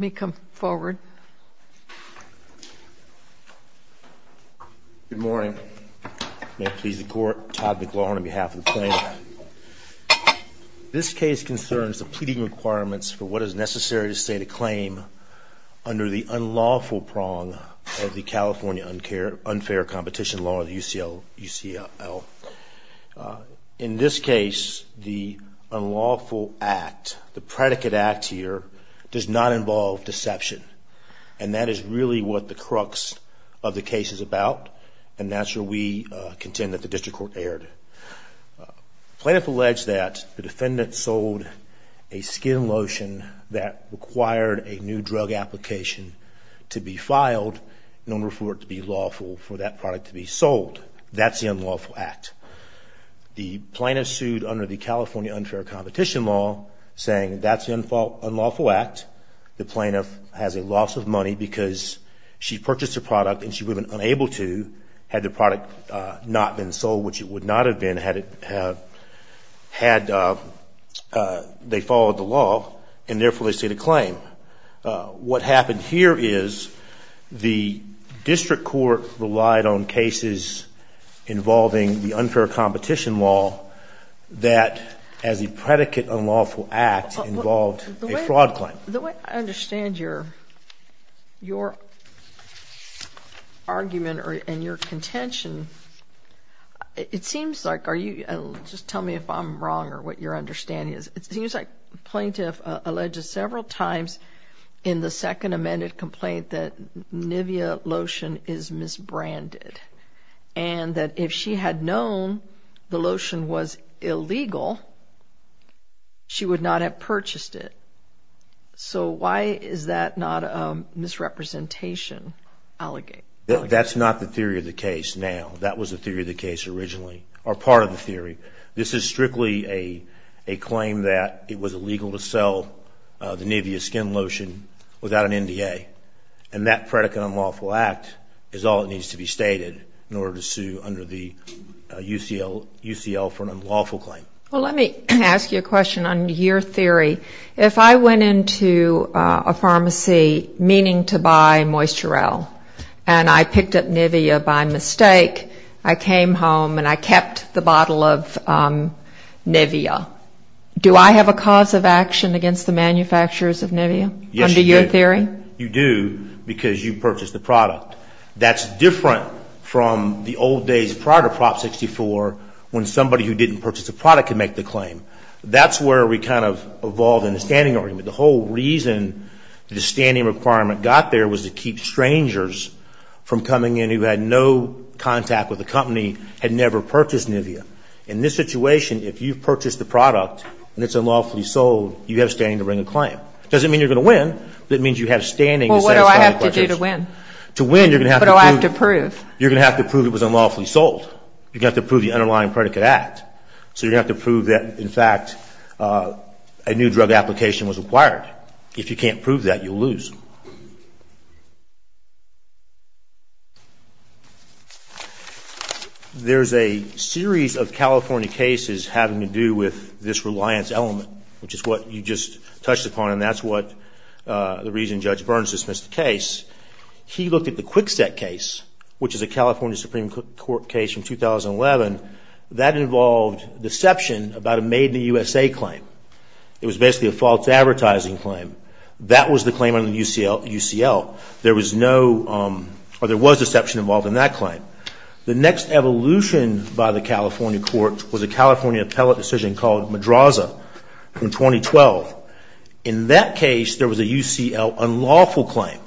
Good morning. May it please the Court, Todd McLaurin on behalf of the Plaintiff. This case concerns the pleading requirements for what is necessary to state a claim under the unlawful prong of the California Unfair Competition Law, or the UCL. In this case, the unlawful act, the predicate act here, does not involve deception. And that is really what the crux of the case is about, and that's where we contend that the District Court erred. The Plaintiff alleged that the defendant sold a skin lotion that required a new drug application to be filed in order for it to be lawful, for that product to be sold. That's the unlawful act. The Plaintiff sued under the California Unfair Competition Law saying that's the unlawful act. The Plaintiff has a loss of money because she purchased a product and she was unable to, had the product not been sold, which it would not have been had they followed the law, and therefore they state a claim. What happened here is the District Court relied on cases involving the Unfair Competition Law that, as a predicate unlawful act, involved a fraud claim. The way I understand your argument and your contention, it seems like, are you, just tell me if I'm wrong or what your understanding is, it seems like the Plaintiff alleged several times in the second amended complaint that Nivea lotion is misbranded, and that if she had known the lotion was illegal, she would not have purchased it. So why is that not a misrepresentation allegation? That's not the theory of the case now. That was the theory of the case originally, or Nivea skin lotion without an NDA. And that predicate unlawful act is all that needs to be stated in order to sue under the UCL for an unlawful claim. Well, let me ask you a question on your theory. If I went into a pharmacy meaning to buy Moisturell and I picked up Nivea by mistake, I came home and I kept the bottle of Nivea, do I have a cause of action against the manufacturers of Nivea under your theory? You do, because you purchased the product. That's different from the old days prior to Prop 64 when somebody who didn't purchase a product could make the claim. That's where we kind of evolved in the standing argument. The whole reason the standing requirement got there was to keep strangers from coming in who had no contact with the company and never purchased Nivea. In this situation, if you've purchased the product and it's unlawfully sold, you have a standing to bring a claim. It doesn't mean you're going to win. It means you have standing to satisfy the question. Well, what do I have to do to win? To win, you're going to have to prove. What do I have to prove? You're going to have to prove it was unlawfully sold. You're going to have to prove the underlying predicate act. So you're going to have to prove that, in fact, a new drug application was required. If you can't prove that, you'll lose. There's a series of California cases having to do with this reliance element, which is what you just touched upon, and that's the reason Judge Burns dismissed the case. He looked at the Kwikset case, which is a California Supreme Court case from 2011. That involved deception about a made-in-the-USA claim. It was basically a false advertising claim. That was the claim under the UCL. There was deception involved in that claim. The next evolution by the California court was a California appellate decision called Madraza in 2012. In that case, there was a UCL unlawful claim.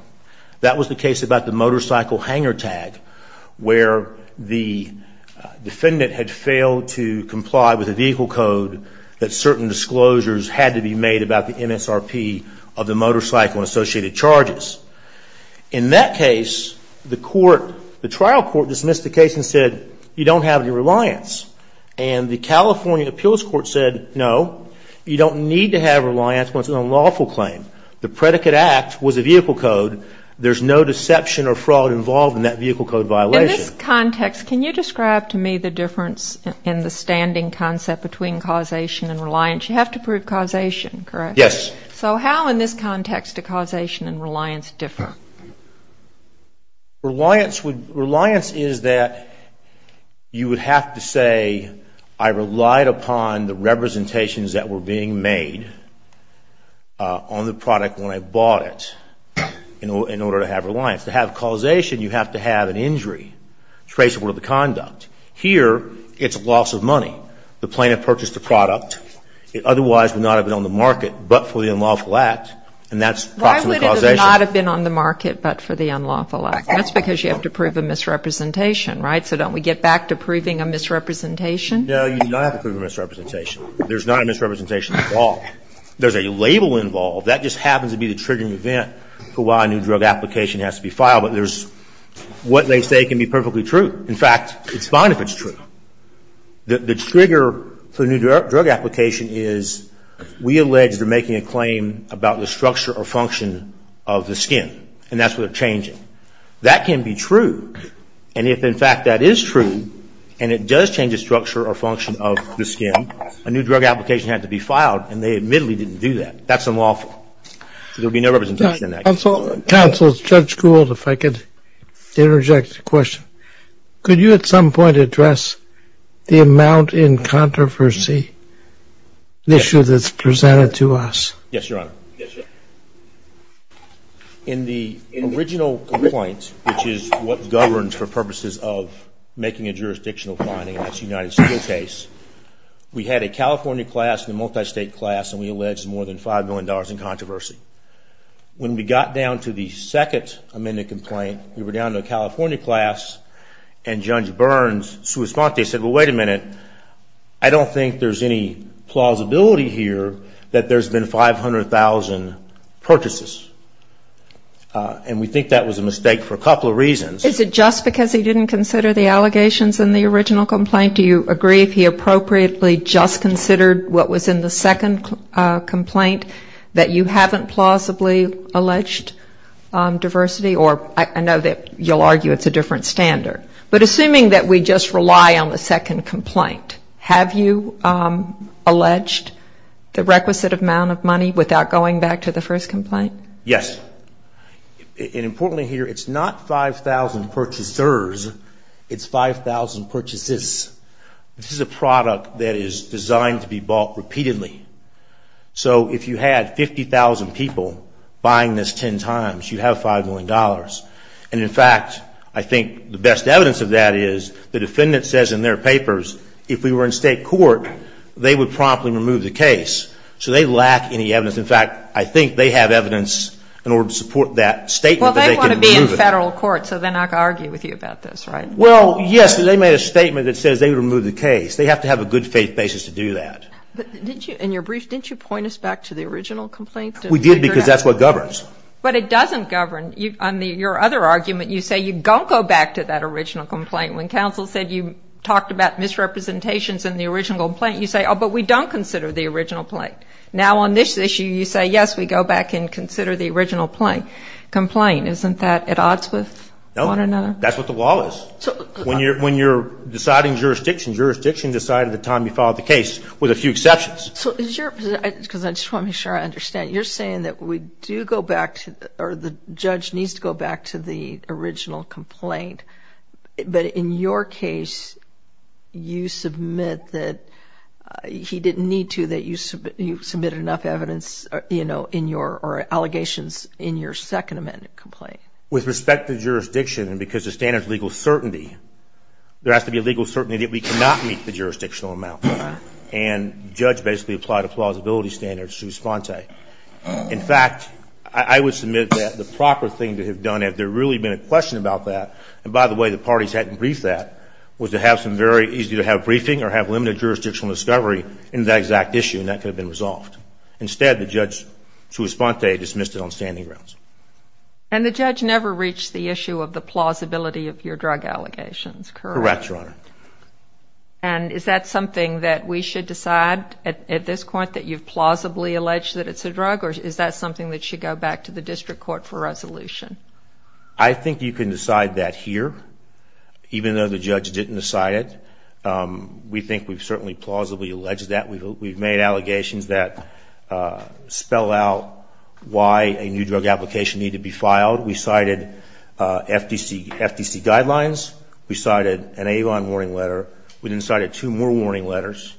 That was the case about the motorcycle hanger tag, where the defendant had failed to comply with a vehicle code that certain disclosures had to be made about the MSRP of the motorcycle and associated charges. In that case, the court, the trial court dismissed the case and said, you don't have any reliance. And the California appeals court said, no, you don't need to have reliance when it's an unlawful claim. The predicate act was a vehicle code. There's no deception or fraud involved in that vehicle code violation. In this context, can you describe to me the difference in the standing concept between causation and reliance? You have to prove causation, correct? Yes. So how in this context do causation and reliance differ? Reliance is that you would have to say, I relied upon the representations that were being made on the product when I bought it in order to have reliance. To have causation, you have to have an injury traceable to the conduct. Here, it's loss of money. The plaintiff purchased the product. It otherwise would not have been on the market, but for the unlawful act. And that's proximate causation. Why would it not have been on the market, but for the unlawful act? That's because you have to prove a misrepresentation, right? So don't we get back to proving a misrepresentation? No, you do not have to prove a misrepresentation. There's not a misrepresentation at all. There's a label involved. That just happens to be the triggering event for why a new drug application has to be filed. But there's what they say can be perfectly true. In fact, it's fine if it's true. The trigger for a new drug application is we allege they're making a claim about the structure or function of the skin, and that's what they're changing. That can be true. And if, in fact, that is true, and it does change the structure or function of the skin, a new drug application had to be filed, and they admittedly didn't do that. That's unlawful. So there would be no representation in that case. Counsel, Judge Gould, if I could interject a question. Could you at some point address the amount in controversy, the issue that's presented to us? Yes, Your Honor. In the original complaint, which is what governs for purposes of making a jurisdictional finding, and that's a United States case, we had a California class and got down to the second amended complaint. We were down to a California class, and Judge Burns' sua sponte said, well, wait a minute. I don't think there's any plausibility here that there's been 500,000 purchases. And we think that was a mistake for a couple of reasons. Is it just because he didn't consider the allegations in the original complaint? Do you agree if he appropriately just considered what was in the second complaint that you haven't plausibly alleged diversity? Or I know that you'll argue it's a different standard. But assuming that we just rely on the second complaint, have you alleged the requisite amount of money without going back to the first complaint? Yes. And importantly here, it's not 5,000 purchasers. It's 5,000 purchases. This is a product that is designed to be bought repeatedly. So if you had 50,000 people buying this ten times, you'd have $5 million. And in fact, I think the best evidence of that is the defendant says in their papers, if we were in state court, they would promptly remove the case. So they lack any evidence. In fact, I think they have evidence in order to support that statement. Well, they want to be in federal court, so then I can argue with you about this, right? Well, yes, they made a statement that says they would remove the case. They have to have a good faith basis to do that. But did you in your brief, didn't you point us back to the original complaint? We did because that's what governs. But it doesn't govern. On your other argument, you say you don't go back to that original complaint. When counsel said you talked about misrepresentations in the original complaint, you say, oh, but we don't consider the original complaint. Now on this issue, you say, yes, we go back and consider the original complaint. Isn't that at odds with one another? No. That's what the law is. When you're deciding jurisdiction, jurisdiction decides at the time you file the case with a few exceptions. So is your, because I just want to make sure I understand, you're saying that we do go back to, or the judge needs to go back to the original complaint. But in your case, you submit that he didn't need to, that you submitted enough evidence in your, or allegations in your second amended complaint. With respect to jurisdiction, and because the standard is legal certainty, there has to be a legal certainty that we cannot meet the jurisdictional amount. And the judge basically applied a plausibility standard, sui sponte. In fact, I would submit that the proper thing to have done, if there really had been a question about that, and by the way, the parties hadn't briefed that, was to have some very easy to have briefing or have limited jurisdictional discovery in that exact issue, and that could have been resolved. Instead, the judge, sui sponte, dismissed it on standing grounds. And the judge never reached the issue of the plausibility of your drug allegations, correct? Correct, Your Honor. And is that something that we should decide at this point, that you've plausibly alleged that it's a drug, or is that something that should go back to the district court for resolution? I think you can decide that here, even though the judge didn't decide it. We think we've certainly plausibly alleged that. We've made allegations that spell out why a new drug application needed to be filed. We cited FDC guidelines. We cited an Avon warning letter. We then cited two more warning letters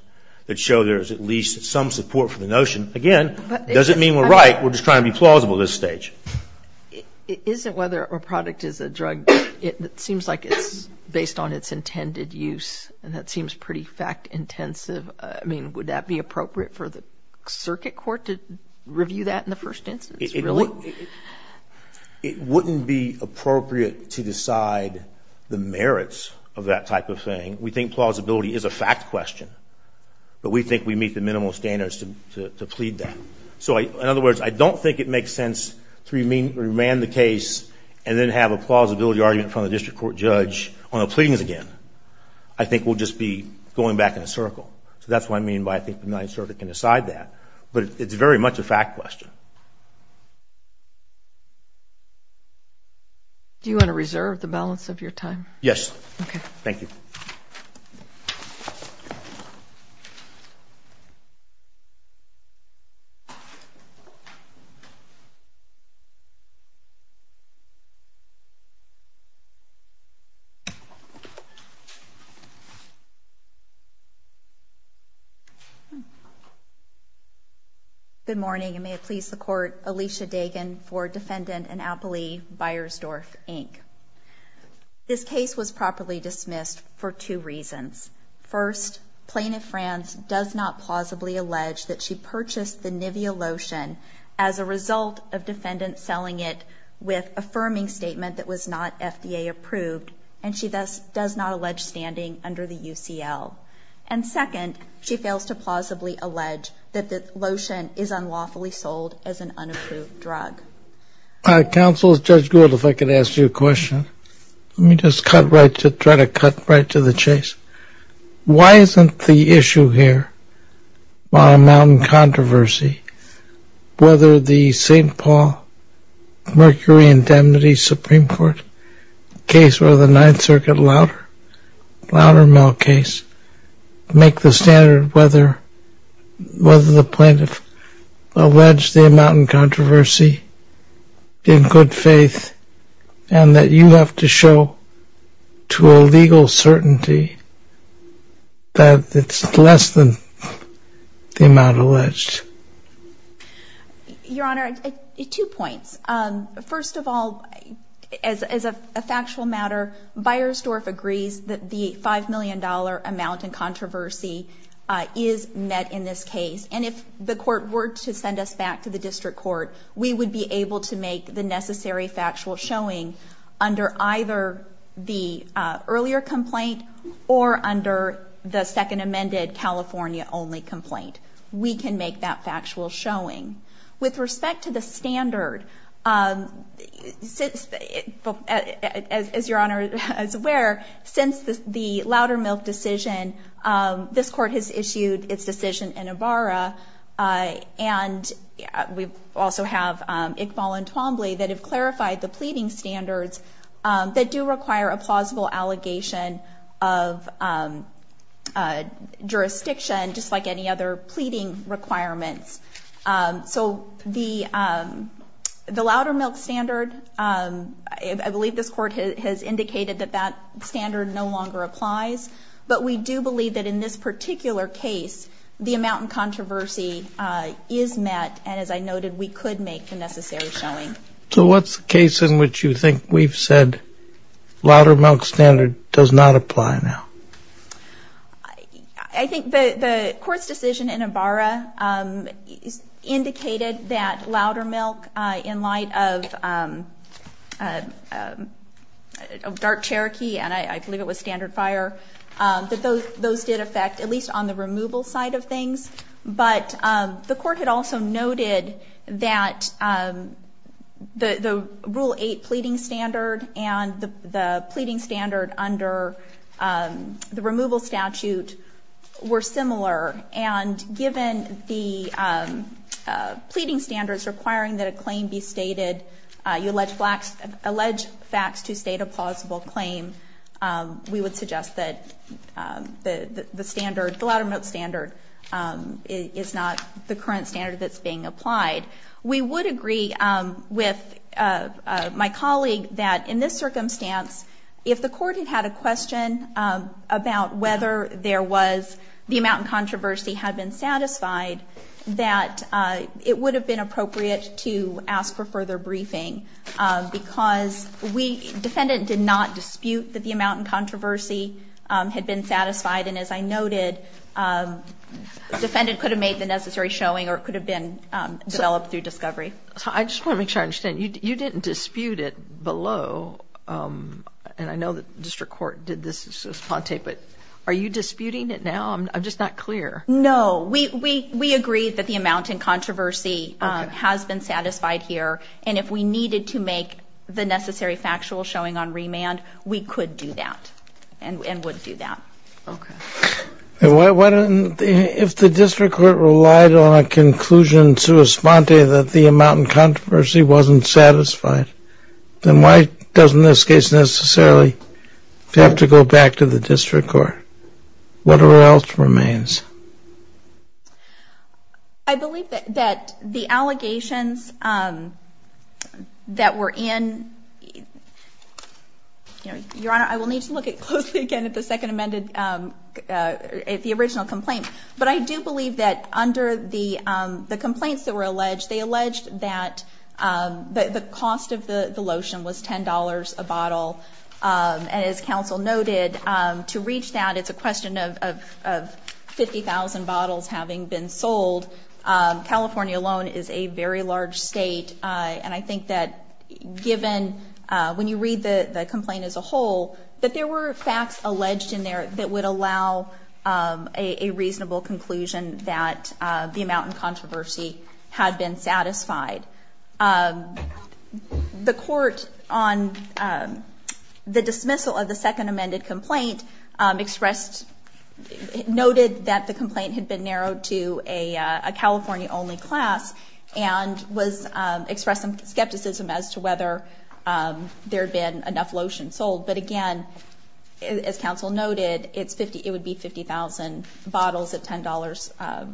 that show there's at least some support for the notion. Again, it doesn't mean we're right. We're just trying to be plausible at this stage. Isn't whether a product is a drug, it seems like it's based on its intended use, and that seems pretty fact-intensive. I mean, would that be appropriate for the circuit court to review that in the first instance, really? It wouldn't be appropriate to decide the merits of that type of thing. We think plausibility is a fact question, but we think we meet the minimal standards to plead that. So in other words, I don't think it makes sense to remand the case and then have a plausibility argument from the district court judge on the pleadings again. I think we'll just be going back in a circle. So that's what I mean by I think the Ninth Circuit can decide that. But it's very much a fact question. Do you want to reserve the balance of your time? Yes. Okay. Good morning, and may it please the Court, Alicia Dagan for Defendant and Appellee, Beyersdorf, Inc. This case was properly dismissed for two reasons. First, Plaintiff Franz does not plausibly allege that she purchased the Nivea lotion as a result of defendants selling it with affirming statement that was not FDA approved, and she thus does not allege standing under the UCL. And second, she fails to plausibly allege that the lotion is unlawfully sold as an unapproved drug. Counsel, Judge Gould, if I could ask you a question. Let me just try to cut right to the chase. Why isn't the issue here on a mountain controversy, whether the St. Paul Mercury Indemnity Supreme Court case or the Ninth Circuit Loudermill case, make the standard whether the plaintiff alleged the amount in controversy in good faith, and that you have to show to a legal certainty that it's less than the amount alleged? Your Honor, two points. First of all, as a factual matter, Beyersdorf agrees that the $5 million amount in controversy is met in this case. And if the court were to send us back to the district court, we would be able to make the necessary factual showing under either the earlier complaint or under the second amended California only complaint. We can make that factual showing. With respect to the standard, as your Honor is aware, since the Loudermilk decision, this court has issued its decision in Ibarra, and we also have Iqbal and Twombly that have clarified the pleading standards that do require a plausible allegation of jurisdiction, just like any other pleading requirements. So the Loudermilk standard, I believe this court has indicated that that standard no longer applies. But we do believe that in this particular case, the amount in controversy is met. And as I noted, we could make the necessary showing. So what's the case in which you think we've said Loudermilk standard does not apply now? I think the court's decision in Ibarra indicated that Loudermilk, in light of Dark Cherokee and I believe it was Standard Fire, that those did affect at least on the removal side of the Rule 8 pleading standard and the pleading standard under the removal statute were similar. And given the pleading standards requiring that a claim be stated, you allege facts to state a plausible claim, we would suggest that the Loudermilk standard is not the current standard that's being applied. We would agree with my colleague that in this circumstance, if the court had had a question about whether there was the amount in controversy had been satisfied, that it would have been appropriate to ask for further briefing. Because we, defendant did not dispute that the amount in controversy had been satisfied. And as I noted, defendant could have made the necessary showing or it could have been developed through discovery. I just want to make sure I understand, you didn't dispute it below, and I know the district court did this as a sponte, but are you disputing it now? I'm just not clear. No, we agreed that the amount in controversy has been satisfied here. And if we needed to make the necessary factual showing on remand, we could do that and would do that. Okay. If the district court relied on a conclusion to a sponte that the amount in controversy wasn't satisfied, then why doesn't this case necessarily have to go back to the district court? What else remains? I believe that the allegations that were in, Your Honor, I will need to look at closely again at the second amended, at the original complaint. But I do believe that under the complaints that were alleged, they alleged that the cost of the lotion was $10 a bottle. And as counsel noted, to reach that, it's a question of 50,000 bottles having been sold. California alone is a very large state. And I think that given, when you read the complaint as a whole, that there were facts alleged in there that would allow a reasonable conclusion that the amount in controversy had been satisfied. The court on the dismissal of the second amended complaint expressed, noted that the complaint had been narrowed to a California only class and was expressing skepticism as to whether there had been enough lotion sold. But again, as counsel noted, it would be 50,000 bottles at $10.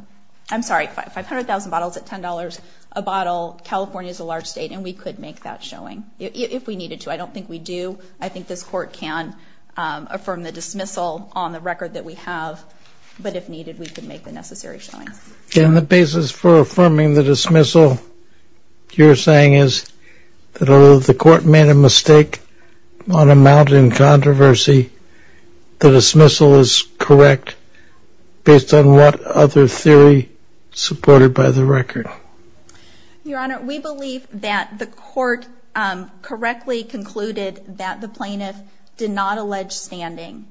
I'm sorry, 500,000 bottles at $10 a bottle. California is a large state and we could make that showing if we needed to. I don't think we do. I think this court can affirm the dismissal on the record that we have. But if needed, we could make the necessary showing. And the basis for affirming the dismissal, you're saying is that although the court made a mistake on amount in controversy, the dismissal is correct based on what other theory supported by the record? Your Honor, we believe that the court correctly concluded that the plaintiff did not allege standing.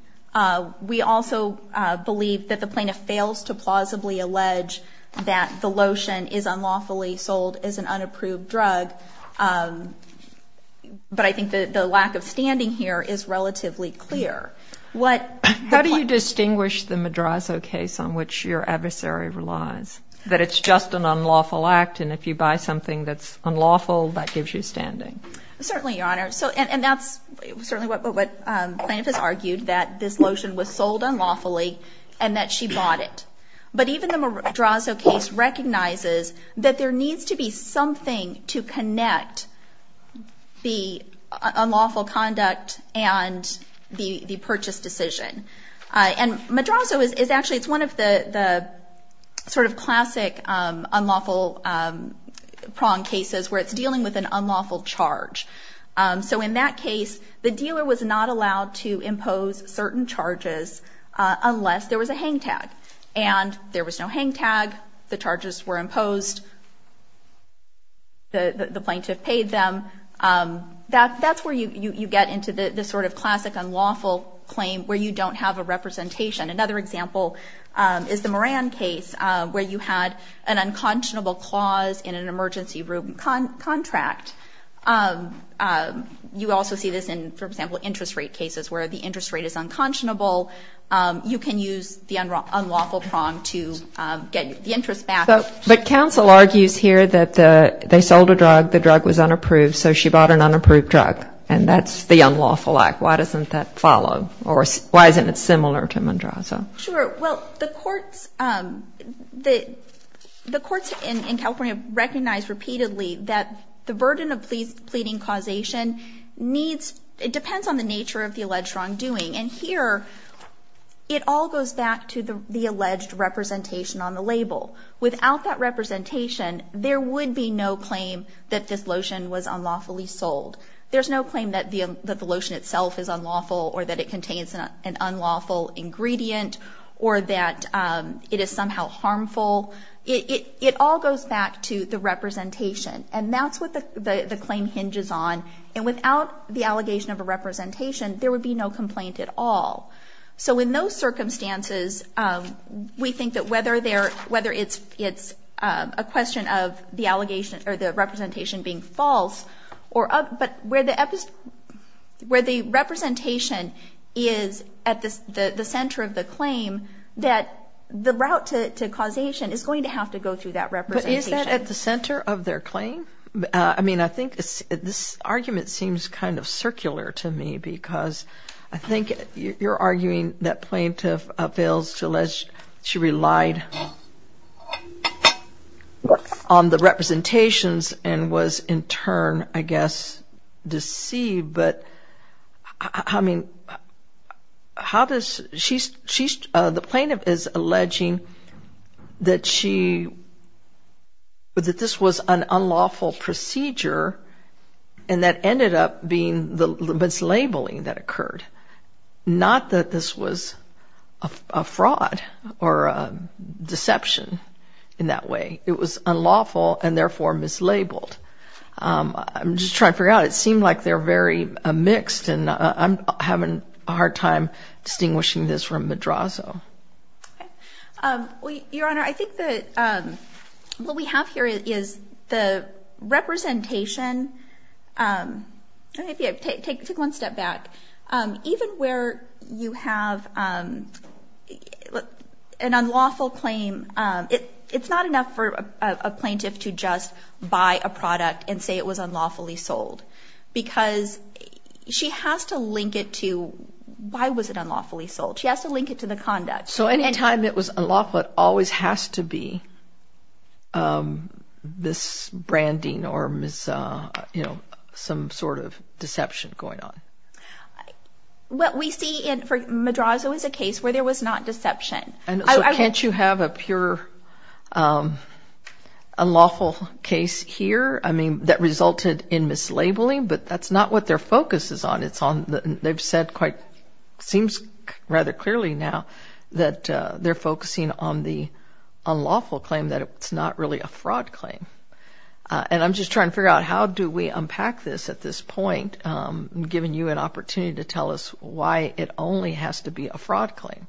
We also believe that the plaintiff fails to plausibly allege that the lotion is unlawfully sold as an unapproved drug. But I think the lack of standing here is relatively clear. How do you distinguish the Madrazo case on which your adversary relies? That it's just an unlawful act and if you buy something that's unlawful, that gives you standing? Certainly, Your Honor. And that's certainly what the plaintiff has argued, that this lotion was sold unlawfully and that she bought it. But even the Madrazo case recognizes that there needs to be something to connect the unlawful conduct and the purchase decision. And Madrazo is actually one of the sort of classic unlawful prong cases where it's dealing with an unlawful charge. So in that case, the dealer was not allowed to impose certain charges unless there was a hang tag. And there was no hang tag. The charges were imposed. The plaintiff paid them. That's where you get into the sort of classic unlawful claim where you don't have a representation. Another example is the Moran case where you had an unconscionable clause in an emergency room contract. You also see this in, for example, interest rate cases where the interest rate is unconscionable. You can use the unlawful prong to get the interest back. But counsel argues here that they sold a drug, the drug was unapproved, so she bought an unapproved drug. And that's the unlawful act. Why doesn't that follow? Or why isn't it similar to Madrazo? Sure. Well, the courts in California recognize repeatedly that the burden of pleading causation needs, it depends on the nature of the alleged wrongdoing. And here, it all goes back to the alleged representation on the label. Without that representation, there would be no claim that this lotion was unlawfully sold. There's no claim that the lotion itself is unlawful or that it contains an unlawful ingredient or that it is somehow harmful. It all goes back to the representation. And that's what the claim hinges on. And without the allegation of a representation, there would be no complaint at all. So in those circumstances, we think that whether it's a question of the representation being false, but where the representation is at the center of the claim, that the route to causation is going to have to go through that representation. But is that at the center of their claim? I mean, I think this argument seems kind of circular to me because I think you're arguing that plaintiff fails to rely on the representations and was in turn, I guess, deceived. But I mean, the plaintiff is alleging that this was an unlawful procedure and that ended up being the mislabeling that occurred. Not that this was a fraud or a deception in that way. It was unlawful and therefore mislabeled. I'm just trying to figure out. It seemed like they're very mixed and I'm having a hard time distinguishing this from Madrazo. Your Honor, I think that what we have here is the representation. Take one step back. Even where you have an unlawful claim, it's not enough for a plaintiff to just buy the product and say it was unlawfully sold. Because she has to link it to, why was it unlawfully sold? She has to link it to the conduct. So any time it was unlawful, it always has to be this branding or some sort of deception going on. What we see in Madrazo is a case where there was not deception. Can't you have a pure unlawful case here that resulted in mislabeling? But that's not what their focus is on. It seems rather clearly now that they're focusing on the unlawful claim that it's not really a fraud claim. And I'm just trying to figure out how do we unpack this at this point, giving you an opportunity to tell us why it only has to be a fraud claim.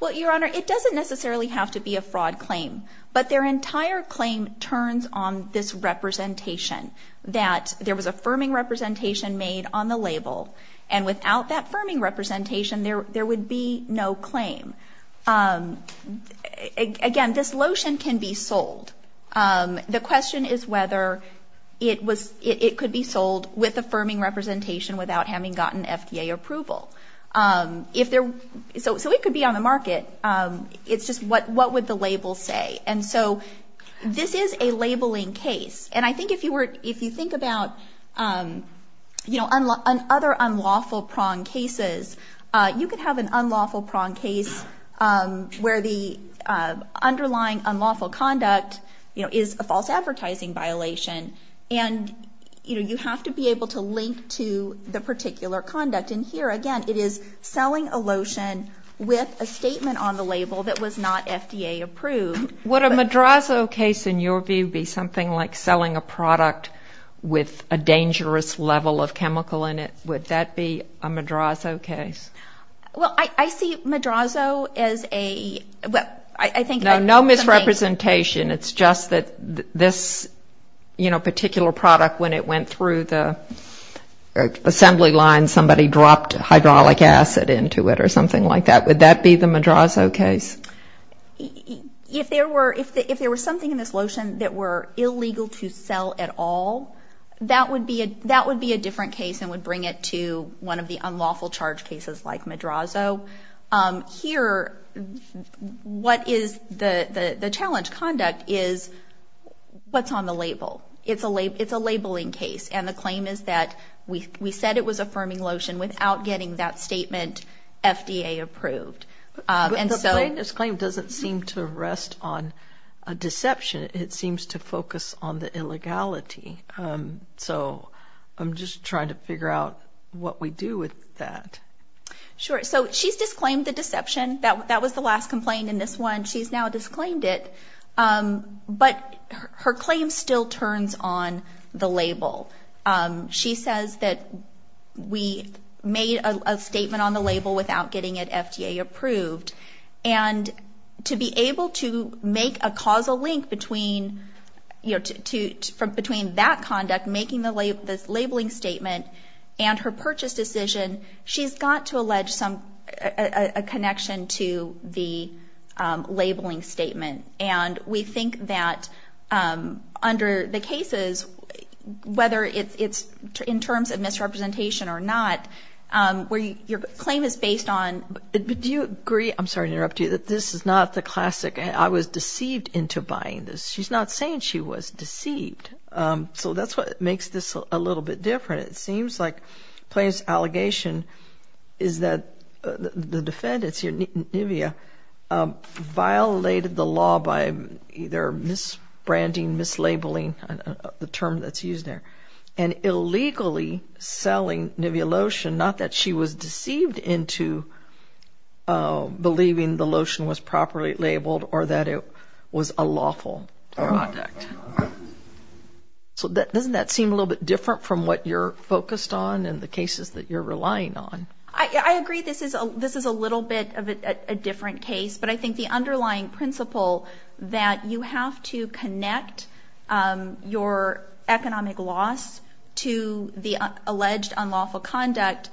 Well, Your Honor, it doesn't necessarily have to be a fraud claim. But their entire claim turns on this representation, that there was a firming representation made on the label. And without that firming representation, there would be no claim. Again, this lotion can be sold. The question is whether it could be sold with a firming representation. It's just what would the label say? And so this is a labeling case. And I think if you think about other unlawful prong cases, you could have an unlawful prong case where the underlying unlawful conduct is a false advertising violation. And you have to be able to link to the particular conduct. And here, again, it is selling a lotion with a statement on the label that was not FDA approved. Would a Madrazo case, in your view, be something like selling a product with a dangerous level of chemical in it? Would that be a Madrazo case? Well, I see Madrazo as a... No misrepresentation. It's just that this particular product, when it went through the assembly line, somebody dropped hydraulic acid into it or something like that. Would that be the Madrazo case? If there were something in this lotion that were illegal to sell at all, that would be a different case and would bring it to one of the unlawful charge cases like Madrazo. Here, what is the challenge conduct is what's on the label. It's a labeling case. And the we said it was affirming lotion without getting that statement, FDA approved. But the plaintiff's claim doesn't seem to rest on a deception. It seems to focus on the illegality. So I'm just trying to figure out what we do with that. Sure. So she's disclaimed the deception. That was the last complaint in this one. She's now disclaimed it. But her claim still turns on the label. She says that she's not going to... We made a statement on the label without getting it FDA approved. And to be able to make a causal link between that conduct, making the labeling statement, and her purchase decision, she's got to allege a connection to the labeling statement. And we think that under the cases, whether it's in terms of misrepresentation or not, where your claim is based on... But do you agree, I'm sorry to interrupt you, that this is not the classic, I was deceived into buying this. She's not saying she was deceived. So that's what makes this a little bit different. It seems like plaintiff's allegation is that the defendants here, Nivea, violated the law by either misbranding, mislabeling, the term that's used there, and illegally selling Nivea Lotion. Not that she was deceived into believing the lotion was properly labeled or that it was a lawful product. So doesn't that seem a little bit different from what you're focused on and the cases that you're relying on? I agree this is a little bit of a different case, but I think the underlying principle that you have to connect your economic loss to the alleged unlawful conduct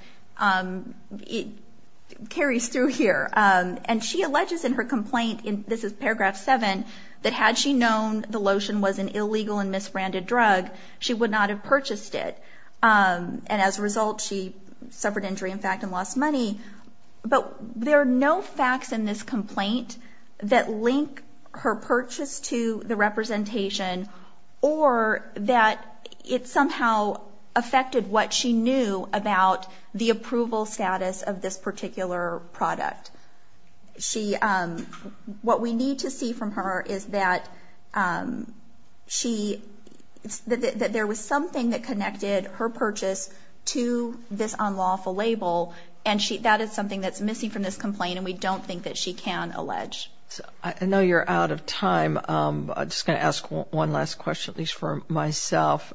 carries through here. And she alleges in her complaint, this is paragraph seven, that had she known the lotion was an illegal and misbranded drug, she would not have purchased it. And as a matter of fact, she lost money. But there are no facts in this complaint that link her purchase to the representation or that it somehow affected what she knew about the approval status of this particular product. What we need to see from her is that there was something that connected her purchase to this unlawful label, and that is something that's missing from this complaint, and we don't think that she can allege. I know you're out of time. I'm just going to ask one last question, at least for myself.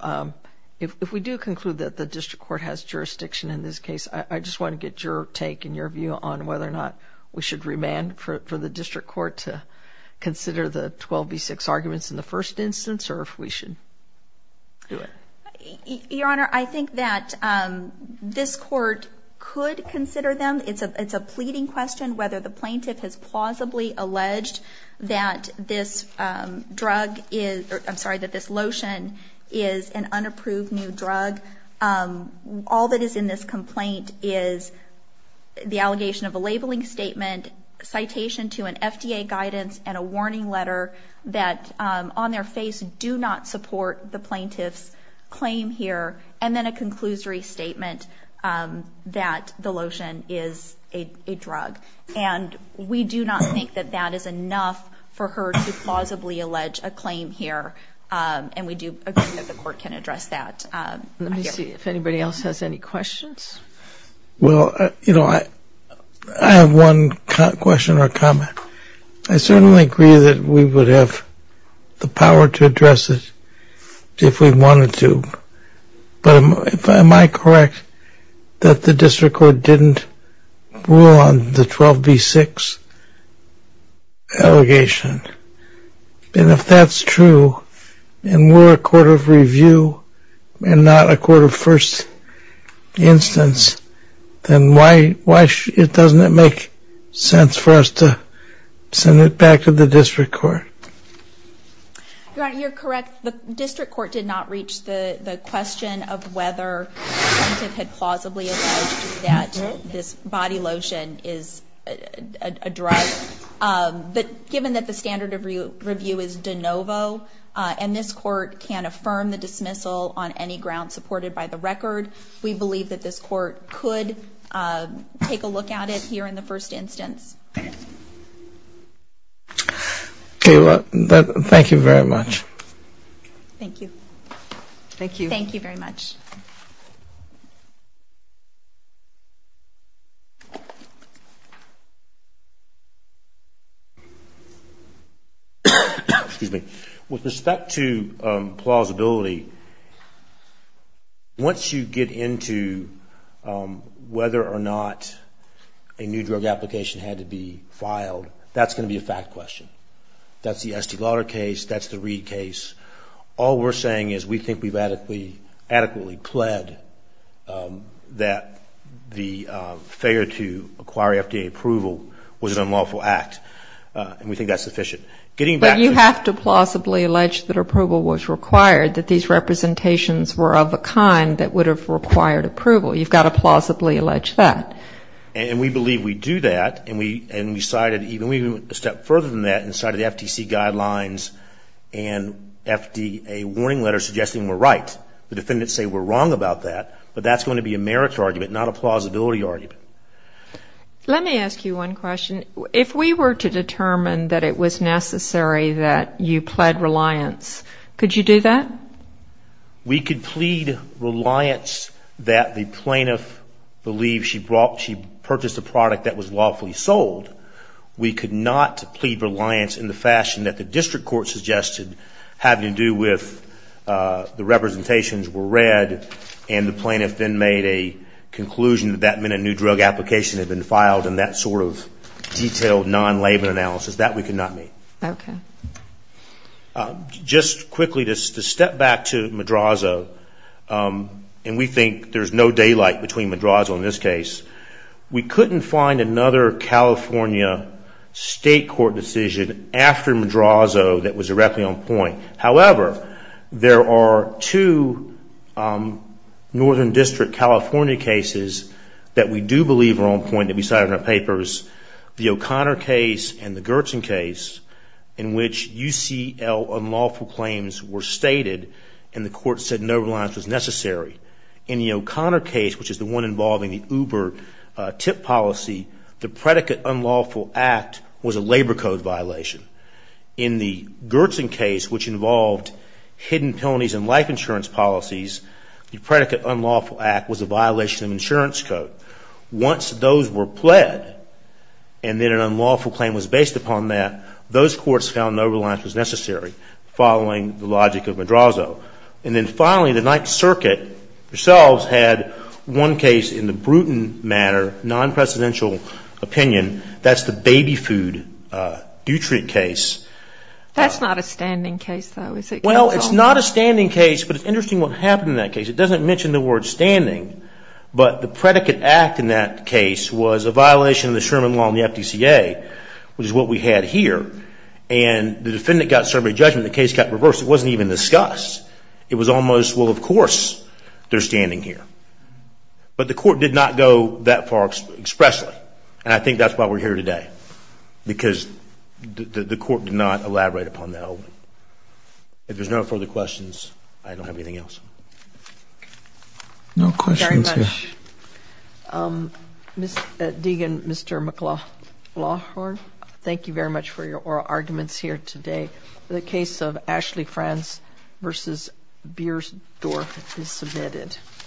If we do conclude that the district court has jurisdiction in this case, I just want to get your take and your view on whether or not we should remand for the district court to consider the 12 v. 6 arguments in the first instance, or if we should do it. Your Honor, I think that this court could consider them. It's a pleading question whether the plaintiff has plausibly alleged that this drug is, I'm sorry, that this lotion is an unapproved new drug. All that is in this complaint is the allegation of a labeling statement, and citation to an FDA guidance, and a warning letter that on their face do not support the plaintiff's claim here, and then a conclusory statement that the lotion is a drug. We do not think that that is enough for her to plausibly allege a claim here, and we do agree that the court can address that. Let me see if anybody else has any questions. Well, you know, I have one question or comment. I certainly agree that we would have the power to address it if we wanted to, but am I correct that the district court didn't rule on the 12 v. 6 allegation? And if that's true, and we're a court of review and not a court of just instance, then why doesn't it make sense for us to send it back to the district court? Your Honor, you're correct. The district court did not reach the question of whether the plaintiff had plausibly alleged that this body lotion is a drug. But given that the standard of review is de novo, and this court can't affirm the dismissal on any grounds supported by the record, we believe that this court could take a look at it here in the first instance. Okay. Well, thank you very much. Thank you. Thank you. Thank you very much. With respect to plausibility, once you get into whether or not a new drug application had to be filed, that's going to be a fact question. That's the Estee Lauder case. That's the Reed case. All we're saying is we think we've adequately pled that the failure to acquire FDA approval was an unlawful act, and we think that's sufficient. But you have to plausibly allege that approval was required, that these representations were of a kind that would have required approval. You've got to plausibly allege that. And we believe we do that, and we cited even a step further than that, and cited the FTC guidelines and FDA warning letters suggesting we're right. The defendants say we're wrong about that, but that's going to be a merit argument, not a plausibility argument. Let me ask you one question. If we were to determine that it was necessary that you pled reliance, could you do that? We could plead reliance that the plaintiff believes she purchased a product that was the district court suggested had to do with the representations were read, and the plaintiff then made a conclusion that that meant a new drug application had been filed and that sort of detailed non-labor analysis. That we could not meet. Just quickly, to step back to Madrazo, and we think there's no daylight between Madrazo and this case, we couldn't find another California state court decision after Madrazo that was directly on point. However, there are two Northern District California cases that we do believe are on point that we cited in our papers, the O'Connor case and the Gertzon case in which UCL unlawful claims were stated and the court said no reliance was necessary. In the O'Connor case, which is the one involving the Uber tip policy, the predicate unlawful act was a labor code violation. In the Gertzon case, which involved hidden penalties and life insurance policies, the predicate unlawful act was a violation of insurance code. Once those were pled and then an unlawful claim was based upon that, those courts found no reliance was necessary following the logic of Madrazo. And then finally, the Ninth Circuit themselves had one case in the Bruton matter, non-presidential opinion, that's the baby food nutrient case. That's not a standing case, though, is it, counsel? Well, it's not a standing case, but it's interesting what happened in that case. It doesn't mention the word standing, but the predicate act in that case was a violation of the Sherman law and the FDCA, which is what we had here, and the defendant got survey judgment and the case got reversed. It wasn't even discussed. It was almost, well, of course, they're standing here. But the court did not go that far expressly, and I think that's why we're here today, because the court did not elaborate upon that. If there's no further questions, I don't have anything else. No questions here. Thank you very much. Mr. Deegan, Mr. McLaughlin, thank you very much for your oral arguments here today. The case of Ashley Franz v. Biersdorf is submitted.